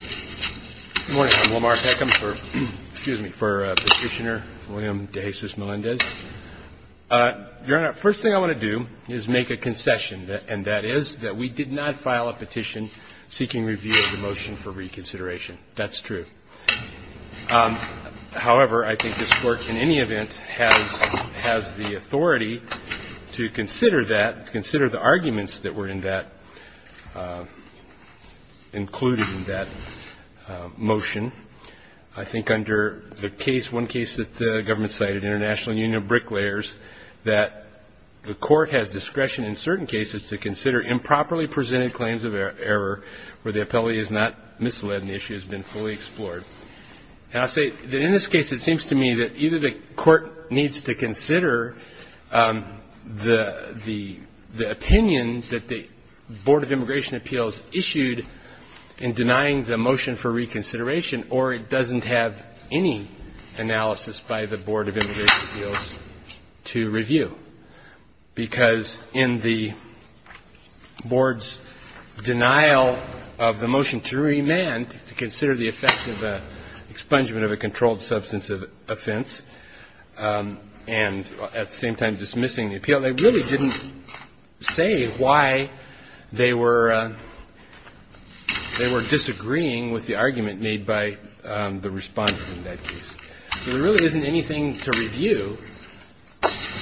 Good morning. I'm Lamar Peckham for Petitioner William de Jesus Melendez. Your Honor, first thing I want to do is make a concession, and that is that we did not file a petition seeking review of the motion for reconsideration. That's true. However, I think this Court, in any event, has the authority to consider that, to consider the arguments that were in that, included in that motion. I think under the case, one case that the government cited, International Union of Bricklayers, that the Court has discretion in certain cases to consider improperly presented claims of error where the appellee is not misled and the issue has been fully explored. And I say that in this case, it seems to me that either the Court needs to consider the opinion that the Board of Immigration Appeals issued in denying the motion for reconsideration, or it doesn't have any analysis by the Board of Immigration Appeals to review. Because in the Board's denial of the motion to remand, to consider the effect of the expungement of a controlled substance of offense, and at the same time dismissing the appeal, they really didn't say why they were disagreeing with the argument made by the Respondent in that case. So there really isn't anything to review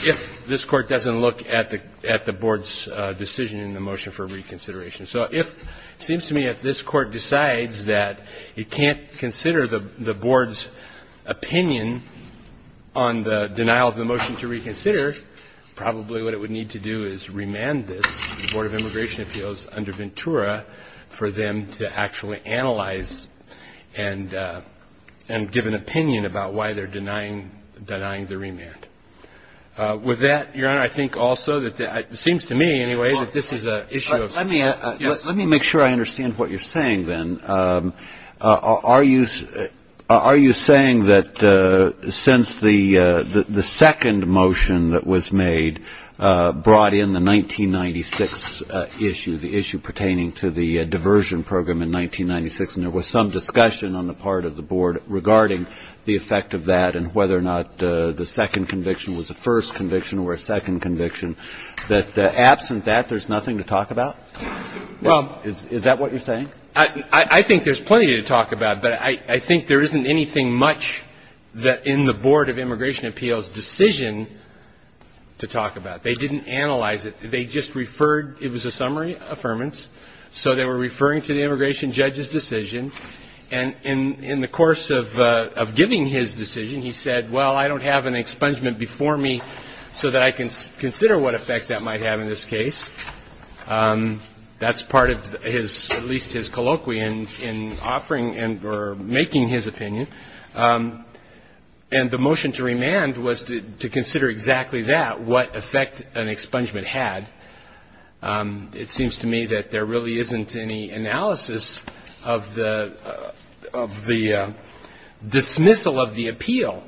if this Court doesn't look at the Board's decision in the motion for reconsideration. So if, it seems to me, if this Court decides that it can't consider the Board's opinion on the denial of the motion to reconsider, probably what it would need to do is remand this, the Board of Immigration Appeals under Ventura, for them to actually analyze and give an opinion about why they're denying the remand. With that, Your Honor, I think also that it seems to me, anyway, that this is an issue of... Let me make sure I understand what you're saying, then. Are you saying that since the second motion that was made brought in the 1996 issue, the issue pertaining to the diversion program in 1996, and there was some discussion on the part of the Board regarding the effect of that and whether or not the second conviction was a first conviction or a second conviction, that absent that there's nothing to talk about? Is that what you're saying? I think there's plenty to talk about, but I think there isn't anything much in the Board of Immigration Appeals' decision to talk about. They didn't analyze it. They just referred, it was a summary affirmance, so they were referring to the immigration judge's decision. And in the course of giving his decision, he said, well, I don't have an expungement before me so that I can consider what effects that might have in this case. That's part of his, at least his colloquy in offering or making his opinion. And the motion to remand was to consider exactly that, what effect an expungement had. It seems to me that there really isn't any analysis of the dismissal of the appeal,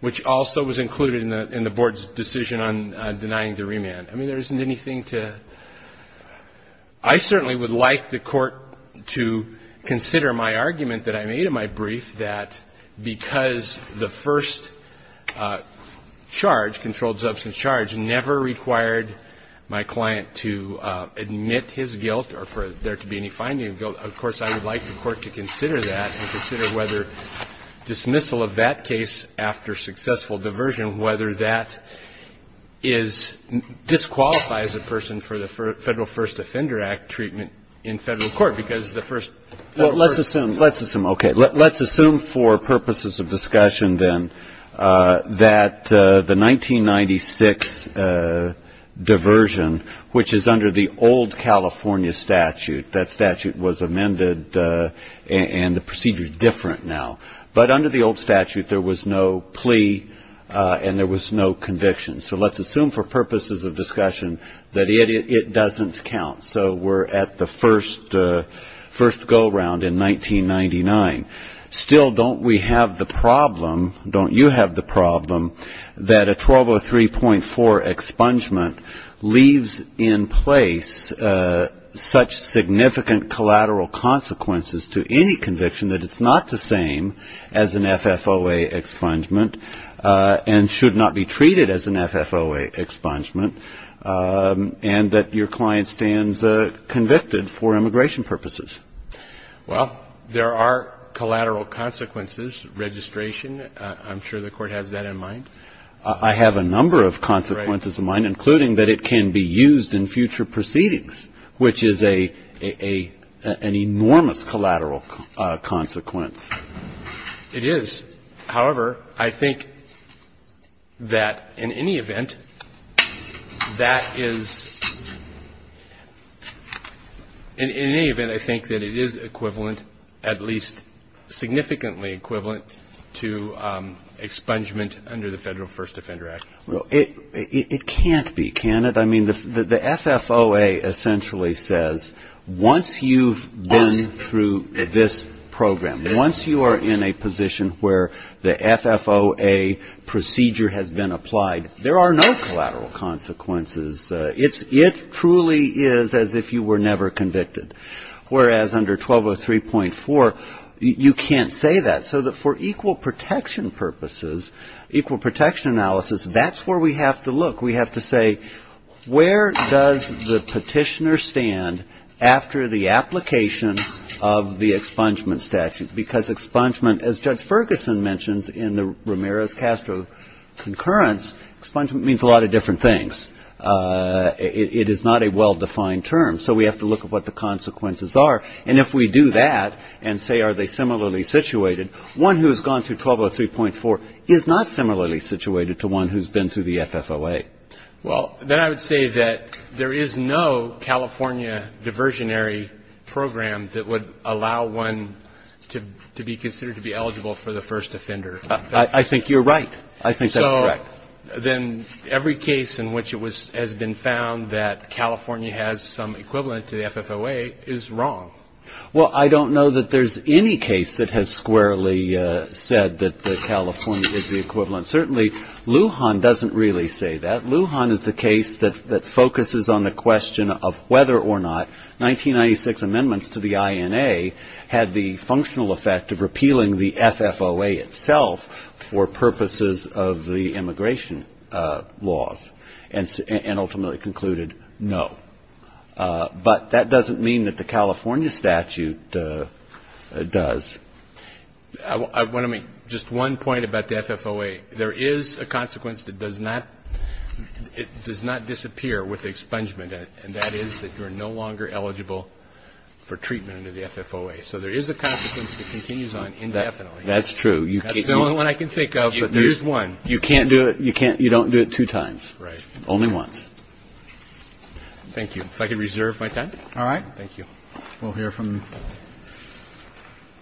which also was included in the Board's decision on denying the remand. I mean, there isn't anything to ‑‑ I certainly would like the court to consider my argument that I made in my brief that because the first charge, controlled substance charge, never required my client to admit his guilt or for there to be any finding of guilt, of course I would like the court to consider that and consider whether dismissal of that case after successful diversion, you know, whether that disqualifies a person for the Federal First Offender Act treatment in federal court. Because the first ‑‑ Well, let's assume, okay, let's assume for purposes of discussion then that the 1996 diversion, which is under the old California statute, that statute was amended and the procedure is different now. But under the old statute there was no plea and there was no conviction. So let's assume for purposes of discussion that it doesn't count. So we're at the first go‑around in 1999. Still, don't we have the problem, don't you have the problem, that a 1203.4 expungement leaves in place such significant collateral consequences to any conviction that it's not the same as an FFOA expungement and should not be treated as an FFOA expungement and that your client stands convicted for immigration purposes? Well, there are collateral consequences. Registration, I'm sure the court has that in mind. I have a number of consequences in mind, including that it can be used in future proceedings, which is an enormous collateral consequence. It is. However, I think that in any event, that is ‑‑ in any event, I think that it is equivalent, at least significantly equivalent to expungement under the Federal First Offender Act. I mean, the FFOA essentially says once you've been through this program, once you are in a position where the FFOA procedure has been applied, there are no collateral consequences. It truly is as if you were never convicted. Whereas under 1203.4, you can't say that. So for equal protection purposes, equal protection analysis, that's where we have to look. We have to say where does the petitioner stand after the application of the expungement statute? Because expungement, as Judge Ferguson mentions in the Ramirez-Castro concurrence, expungement means a lot of different things. It is not a well‑defined term. So we have to look at what the consequences are. And if we do that and say are they similarly situated, one who has gone through 1203.4 is not similarly situated to one who has been through the FFOA. Well, then I would say that there is no California diversionary program that would allow one to be considered to be eligible for the first offender. I think you're right. I think that's correct. So then every case in which it has been found that California has some equivalent to the FFOA is wrong. Well, I don't know that there's any case that has squarely said that California is the equivalent. Certainly, Lujan doesn't really say that. Lujan is a case that focuses on the question of whether or not 1996 amendments to the INA had the functional effect of repealing the FFOA itself for purposes of the immigration laws and ultimately concluded no. But that doesn't mean that the California statute does. I want to make just one point about the FFOA. There is a consequence that does not disappear with expungement, and that is that you are no longer eligible for treatment under the FFOA. So there is a consequence that continues on indefinitely. That's true. That's the only one I can think of, but there is one. You don't do it two times. Right. Only once. Thank you. If I could reserve my time. All right. Thank you. We'll hear from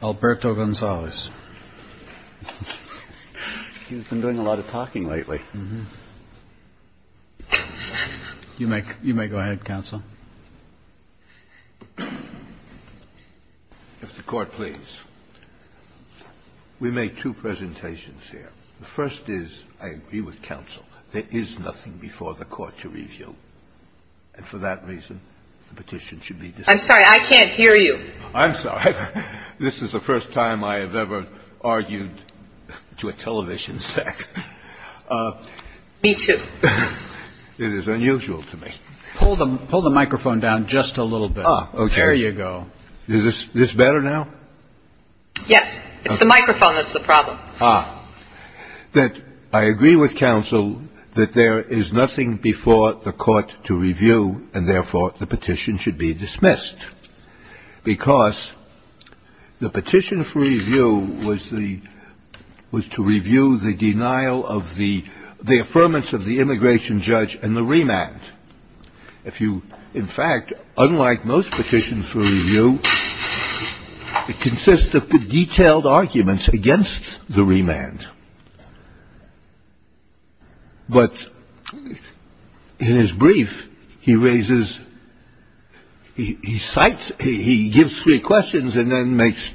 Alberto Gonzalez. He's been doing a lot of talking lately. You may go ahead, counsel. If the Court please. We made two presentations here. The first is I agree with counsel. There is nothing before the Court to review. And for that reason, the petition should be dismissed. I'm sorry. I can't hear you. I'm sorry. This is the first time I have ever argued to a television set. Me too. It is unusual to me. Pull the microphone down just a little bit. Ah, okay. There you go. Is this better now? Yes. It's the microphone that's the problem. Ah. I agree with counsel that there is nothing before the Court to review, and therefore the petition should be dismissed. Because the petition for review was to review the denial of the affirmance of the immigration judge and the remand. So it consists of the detailed arguments against the remand. But in his brief, he raises he cites, he gives three questions, and then makes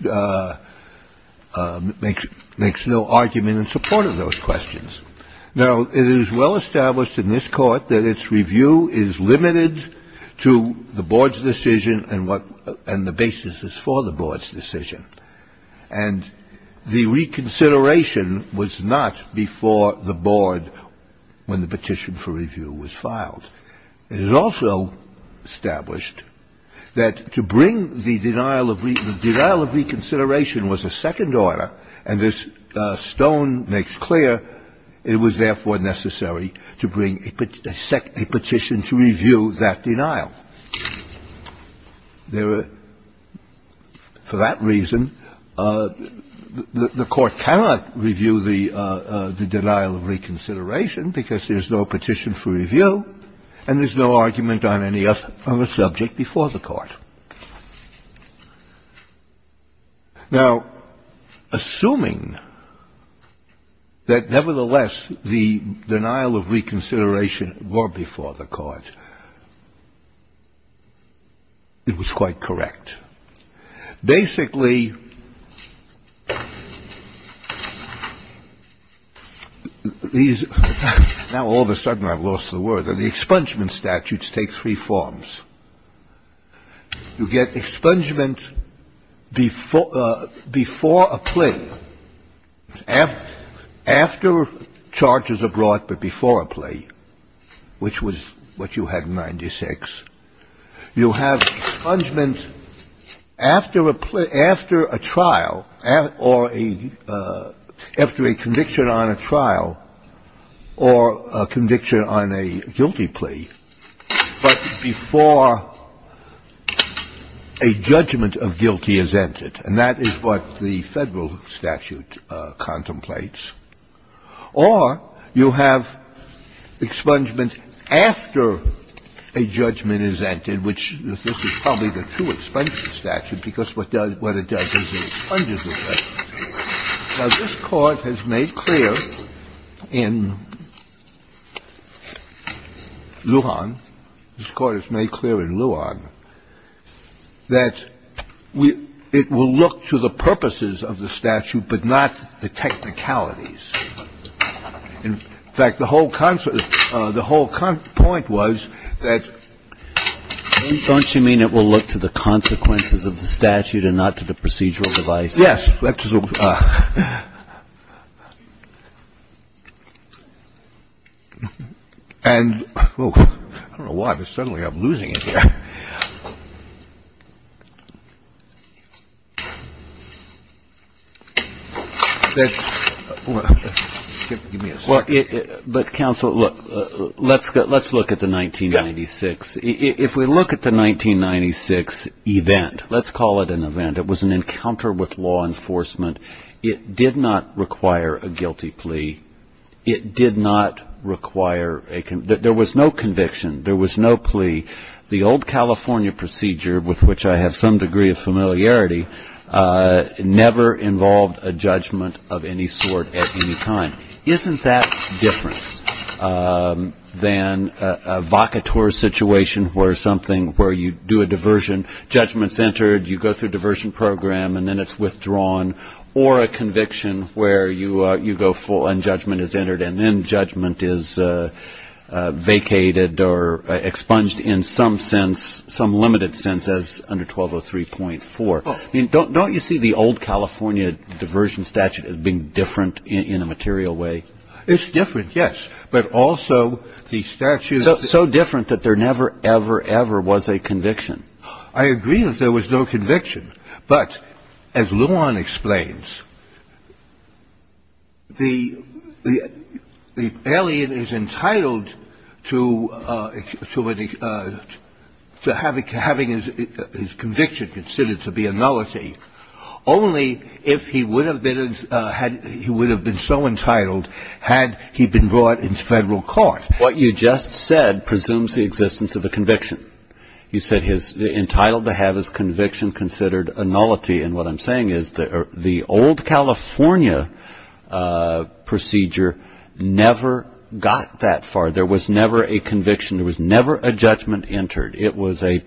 no argument in support of those questions. Now, it is well established in this Court that its review is limited to the board's decision and the basis is for the board's decision. And the reconsideration was not before the board when the petition for review was filed. It is also established that to bring the denial of, the denial of reconsideration was a second order, and as Stone makes clear, it was therefore necessary to bring a petition to review that denial. There were, for that reason, the Court cannot review the denial of reconsideration because there's no petition for review and there's no argument on any other subject before the Court. Now, assuming that, nevertheless, the denial of reconsideration were before the Court, it was quite correct. Basically, these, now all of a sudden I've lost the word. The expungement statutes take three forms. You get expungement before a plea, after charges are brought but before a plea, which was what you had in 96. You have expungement after a trial or a, after a conviction on a trial or a conviction on a guilty plea, but before a judgment of guilty is entered. And that is what the Federal statute contemplates. Or you have expungement after a judgment is entered, which this is probably the true expungement statute because what it does is it expunges the judgment. Now, this Court has made clear in Luon, this Court has made clear in Luon that it will look to the purposes of the statute but not the technicalities. In fact, the whole point was that. Don't you mean it will look to the consequences of the statute and not to the procedural device? Yes. And I don't know why, but suddenly I'm losing it here. Well, but counsel, look, let's look at the 1996. If we look at the 1996 event, let's call it an event, it was an encounter with law enforcement. It did not require a guilty plea. It did not require a, there was no conviction. There was no plea. The old California procedure, with which I have some degree of familiarity, never involved a judgment of any sort at any time. Isn't that different than a vocateur situation where something, where you do a diversion, judgment's entered, you go through diversion program and then it's withdrawn, or a conviction where you go full and judgment is entered and then judgment is vacated or expunged in some sense, some limited sense as under 1203.4. Don't you see the old California diversion statute as being different in a material way? It's different, yes. But also the statute. So different that there never ever, ever was a conviction. I agree that there was no conviction. But as Luan explains, the alien is entitled to having his conviction considered to be a nullity, only if he would have been so entitled had he been brought into federal court. What you just said presumes the existence of a conviction. You said he's entitled to have his conviction considered a nullity. And what I'm saying is the old California procedure never got that far. There was never a conviction. There was never a judgment entered. It was a,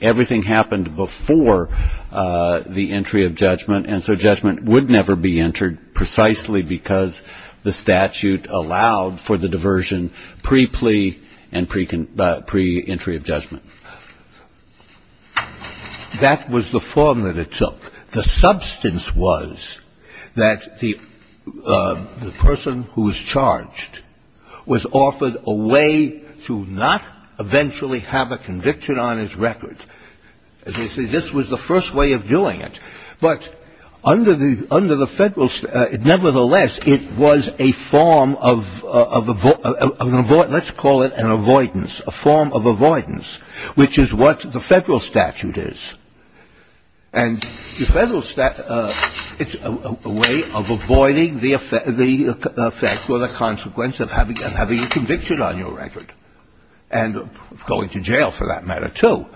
everything happened before the entry of judgment. And so judgment would never be entered precisely because the statute allowed for the diversion pre-plea and pre-entry of judgment. That was the form that it took. The substance was that the person who was charged was offered a way to not eventually have a conviction on his record. This was the first way of doing it. But under the federal, nevertheless, it was a form of, let's call it an avoidance, a form of avoidance, which is what the federal statute is. And the federal statute, it's a way of avoiding the effect or the consequence of having a conviction on your record and going to jail for that matter, too.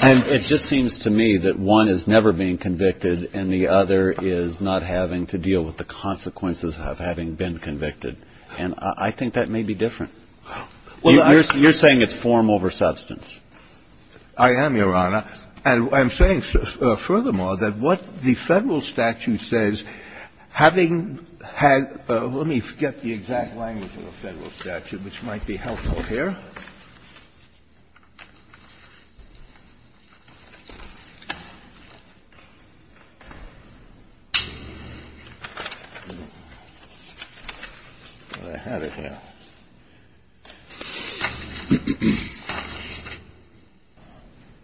And it just seems to me that one is never being convicted and the other is not having to deal with the consequences of having been convicted. And I think that may be different. You're saying it's form over substance. I am, Your Honor. And I'm saying, furthermore, that what the federal statute says, having had, let me forget the exact language of the federal statute, which might be helpful here. Well, I have it here.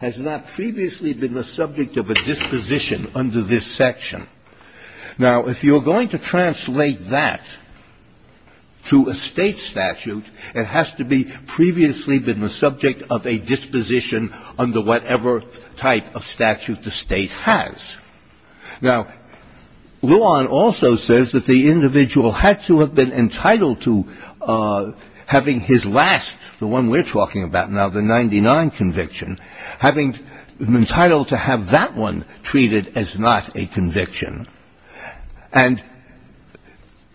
Has not previously been the subject of a disposition under this section. Now, if you're going to translate that to a state statute, it has to be previously been the subject of a disposition under whatever type of statute the state has. Now, Luan also says that the individual had to have been entitled to having his last, the one we're talking about now, the 99 conviction, having been entitled to have that one treated as not a conviction. And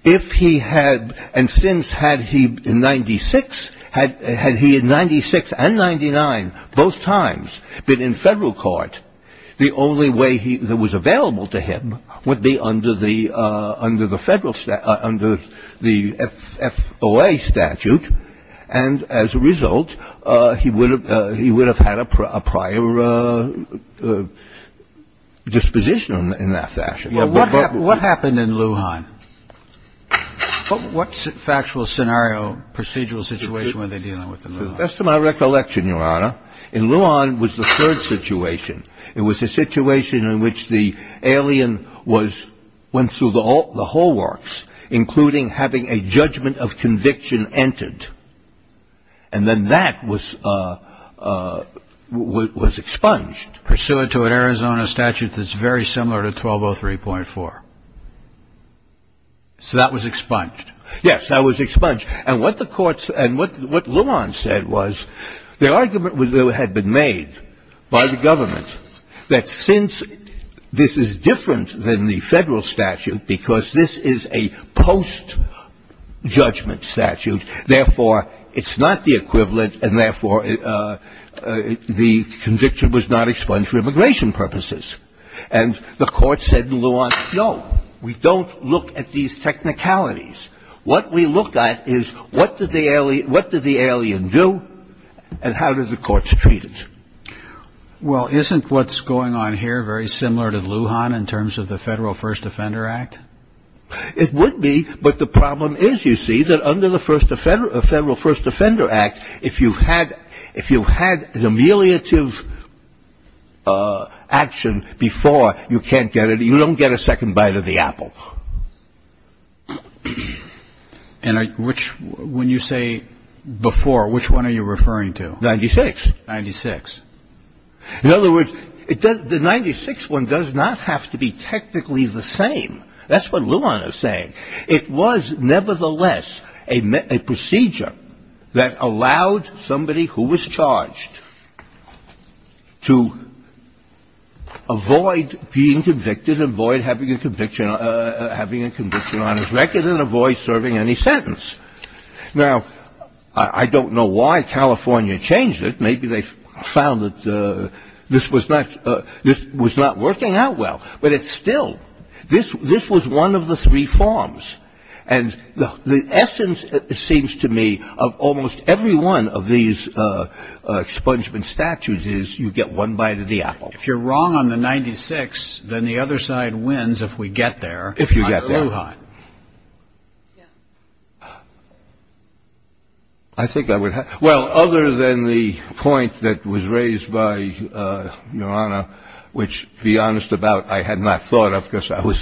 if he had, and since had he in 96, had he in 96 and 99 both times been in federal court, the only way that was available to him would be under the federal statute, under the FOA statute, and as a result, he would have had a prior disposition in that fashion. Well, what happened in Luan? What factual scenario, procedural situation were they dealing with in Luan? To the best of my recollection, Your Honor, in Luan was the third situation. It was a situation in which the alien was, went through the whole works, including having a judgment of conviction entered, and then that was expunged. Pursuant to an Arizona statute that's very similar to 1203.4. So that was expunged. Yes, that was expunged. And what the courts, and what Luan said was the argument that had been made by the government that since this is different than the federal statute because this is a post-judgment statute, therefore, it's not the equivalent, and therefore, the conviction was not expunged for immigration purposes. And the court said in Luan, no, we don't look at these technicalities. What we look at is what did the alien do and how did the courts treat it? Well, isn't what's going on here very similar to Luan in terms of the Federal First Defender Act? It would be, but the problem is, you see, that under the Federal First Defender Act, if you had an ameliorative action before, you can't get it. You don't get a second bite of the apple. And when you say before, which one are you referring to? 96. 96. In other words, the 96 one does not have to be technically the same. That's what Luan is saying. It was, nevertheless, a procedure that allowed somebody who was charged to avoid being convicted, avoid having a conviction on his record, and avoid serving any sentence. Now, I don't know why California changed it. Maybe they found that this was not working out well. But it still, this was one of the three forms. And the essence, it seems to me, of almost every one of these expungement statutes is you get one bite of the apple. If you're wrong on the 96, then the other side wins if we get there. If you get there. Oh, God. I think I would have. Well, other than the point that was raised by Your Honor, which, to be honest about, I had not thought of, because I was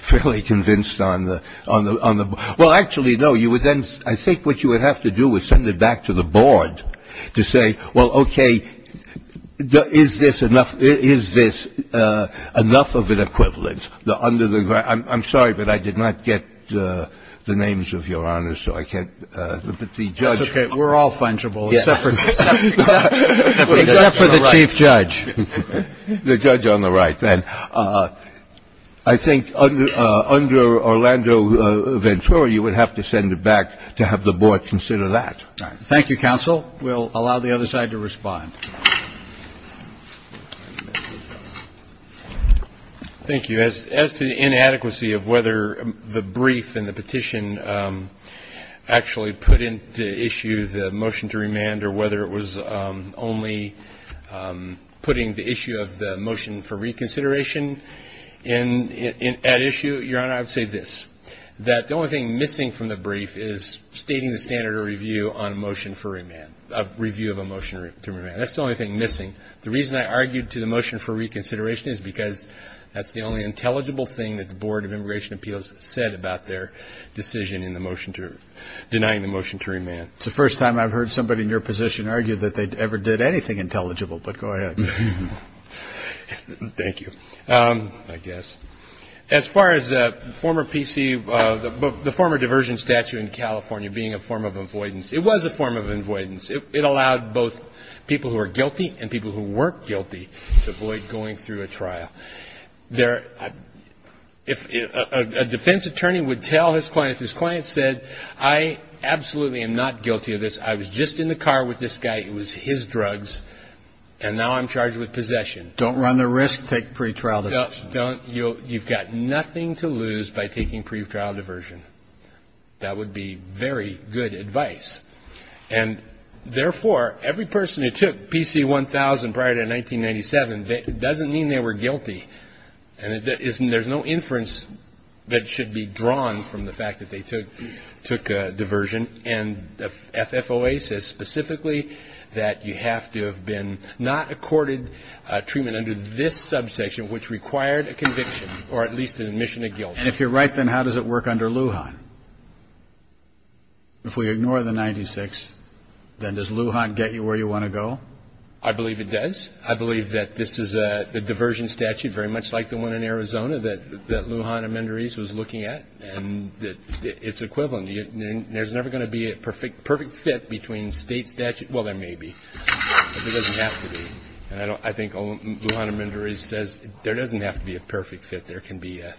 fairly convinced on the board. Well, actually, no. You would then, I think what you would have to do was send it back to the board to say, well, okay, is this enough of an equivalent? I'm sorry, but I did not get the names of Your Honors, so I can't. But the judge. That's okay. We're all fungible, except for the chief judge. The judge on the right. I think under Orlando Ventura, you would have to send it back to have the board consider that. We'll allow the other side to respond. Thank you. As to the inadequacy of whether the brief and the petition actually put into issue the motion to remand or whether it was only putting the issue of the motion for reconsideration at issue, Your Honor, I would say this, that the only thing missing from the brief is stating the standard of review on a motion for remand, a review of a motion to remand. That's the only thing missing. The reason I argued to the motion for reconsideration is because that's the only intelligible thing that the Board of Immigration Appeals said about their decision in denying the motion to remand. It's the first time I've heard somebody in your position argue that they ever did anything intelligible, but go ahead. Thank you. As far as the former diversion statute in California being a form of avoidance, it was a form of avoidance. It allowed both people who are guilty and people who weren't guilty to avoid going through a trial. If a defense attorney would tell his client, if his client said, I absolutely am not guilty of this, I was just in the car with this guy, it was his drugs, and now I'm charged with possession. Don't run the risk, take pretrial diversion. You've got nothing to lose by taking pretrial diversion. That would be very good advice. And, therefore, every person who took PC-1000 prior to 1997, it doesn't mean they were guilty. There's no inference that should be drawn from the fact that they took a diversion. And the FFOA says specifically that you have to have been not accorded treatment under this subsection, which required a conviction or at least an admission of guilt. And if you're right, then how does it work under Lujan? If we ignore the 96, then does Lujan get you where you want to go? I believe it does. I believe that this is a diversion statute, very much like the one in Arizona that Lujan Amendoriz was looking at, and that it's equivalent. There's never going to be a perfect fit between State statute. Well, there may be, but there doesn't have to be. And I think Lujan Amendoriz says there doesn't have to be a perfect fit. There can be a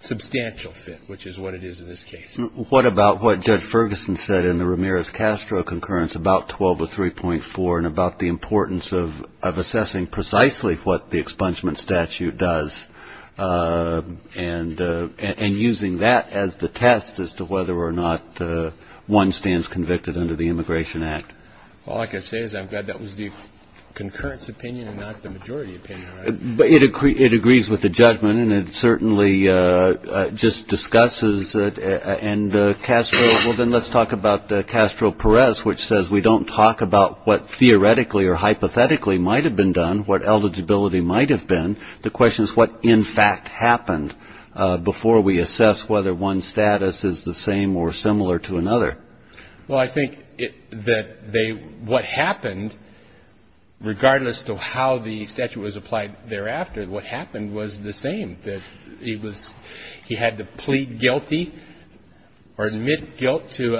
substantial fit, which is what it is in this case. What about what Judge Ferguson said in the Ramirez-Castro concurrence about 1203.4 and about the importance of assessing precisely what the expungement statute does and using that as the test as to whether or not one stands convicted under the Immigration Act? All I can say is I'm glad that was the concurrence opinion and not the majority opinion. It agrees with the judgment, and it certainly just discusses it. And, Castro, well, then let's talk about Castro-Perez, which says we don't talk about what theoretically or hypothetically might have been done, what eligibility might have been. The question is what, in fact, happened before we assess whether one's status is the same or similar to another. Well, I think that what happened, regardless of how the statute was applied thereafter, what happened was the same, that he was he had to plead guilty or admit guilt to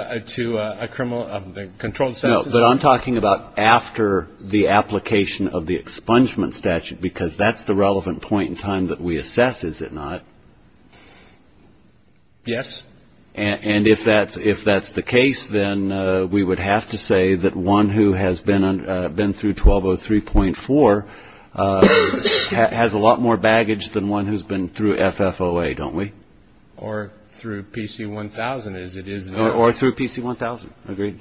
a criminal, a controlled substance. No, but I'm talking about after the application of the expungement statute because that's the relevant point in time that we assess, is it not? Yes. And if that's the case, then we would have to say that one who has been through 1203.4 has a lot more baggage than one who's been through FFOA, don't we? Or through PC-1000, as it is known. Or through PC-1000. Agreed.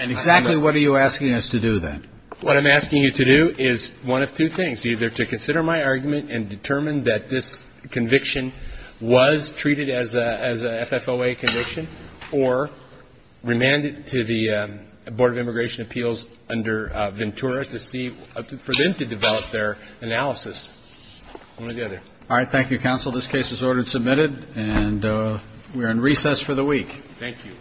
And exactly what are you asking us to do, then? What I'm asking you to do is one of two things, either to consider my argument and determine that this conviction was treated as a FFOA conviction or remand it to the Board of Immigration Appeals under Ventura to see, for them to develop their analysis. One or the other. All right. Thank you, counsel. This case is ordered and submitted. And we are in recess for the week. Thank you.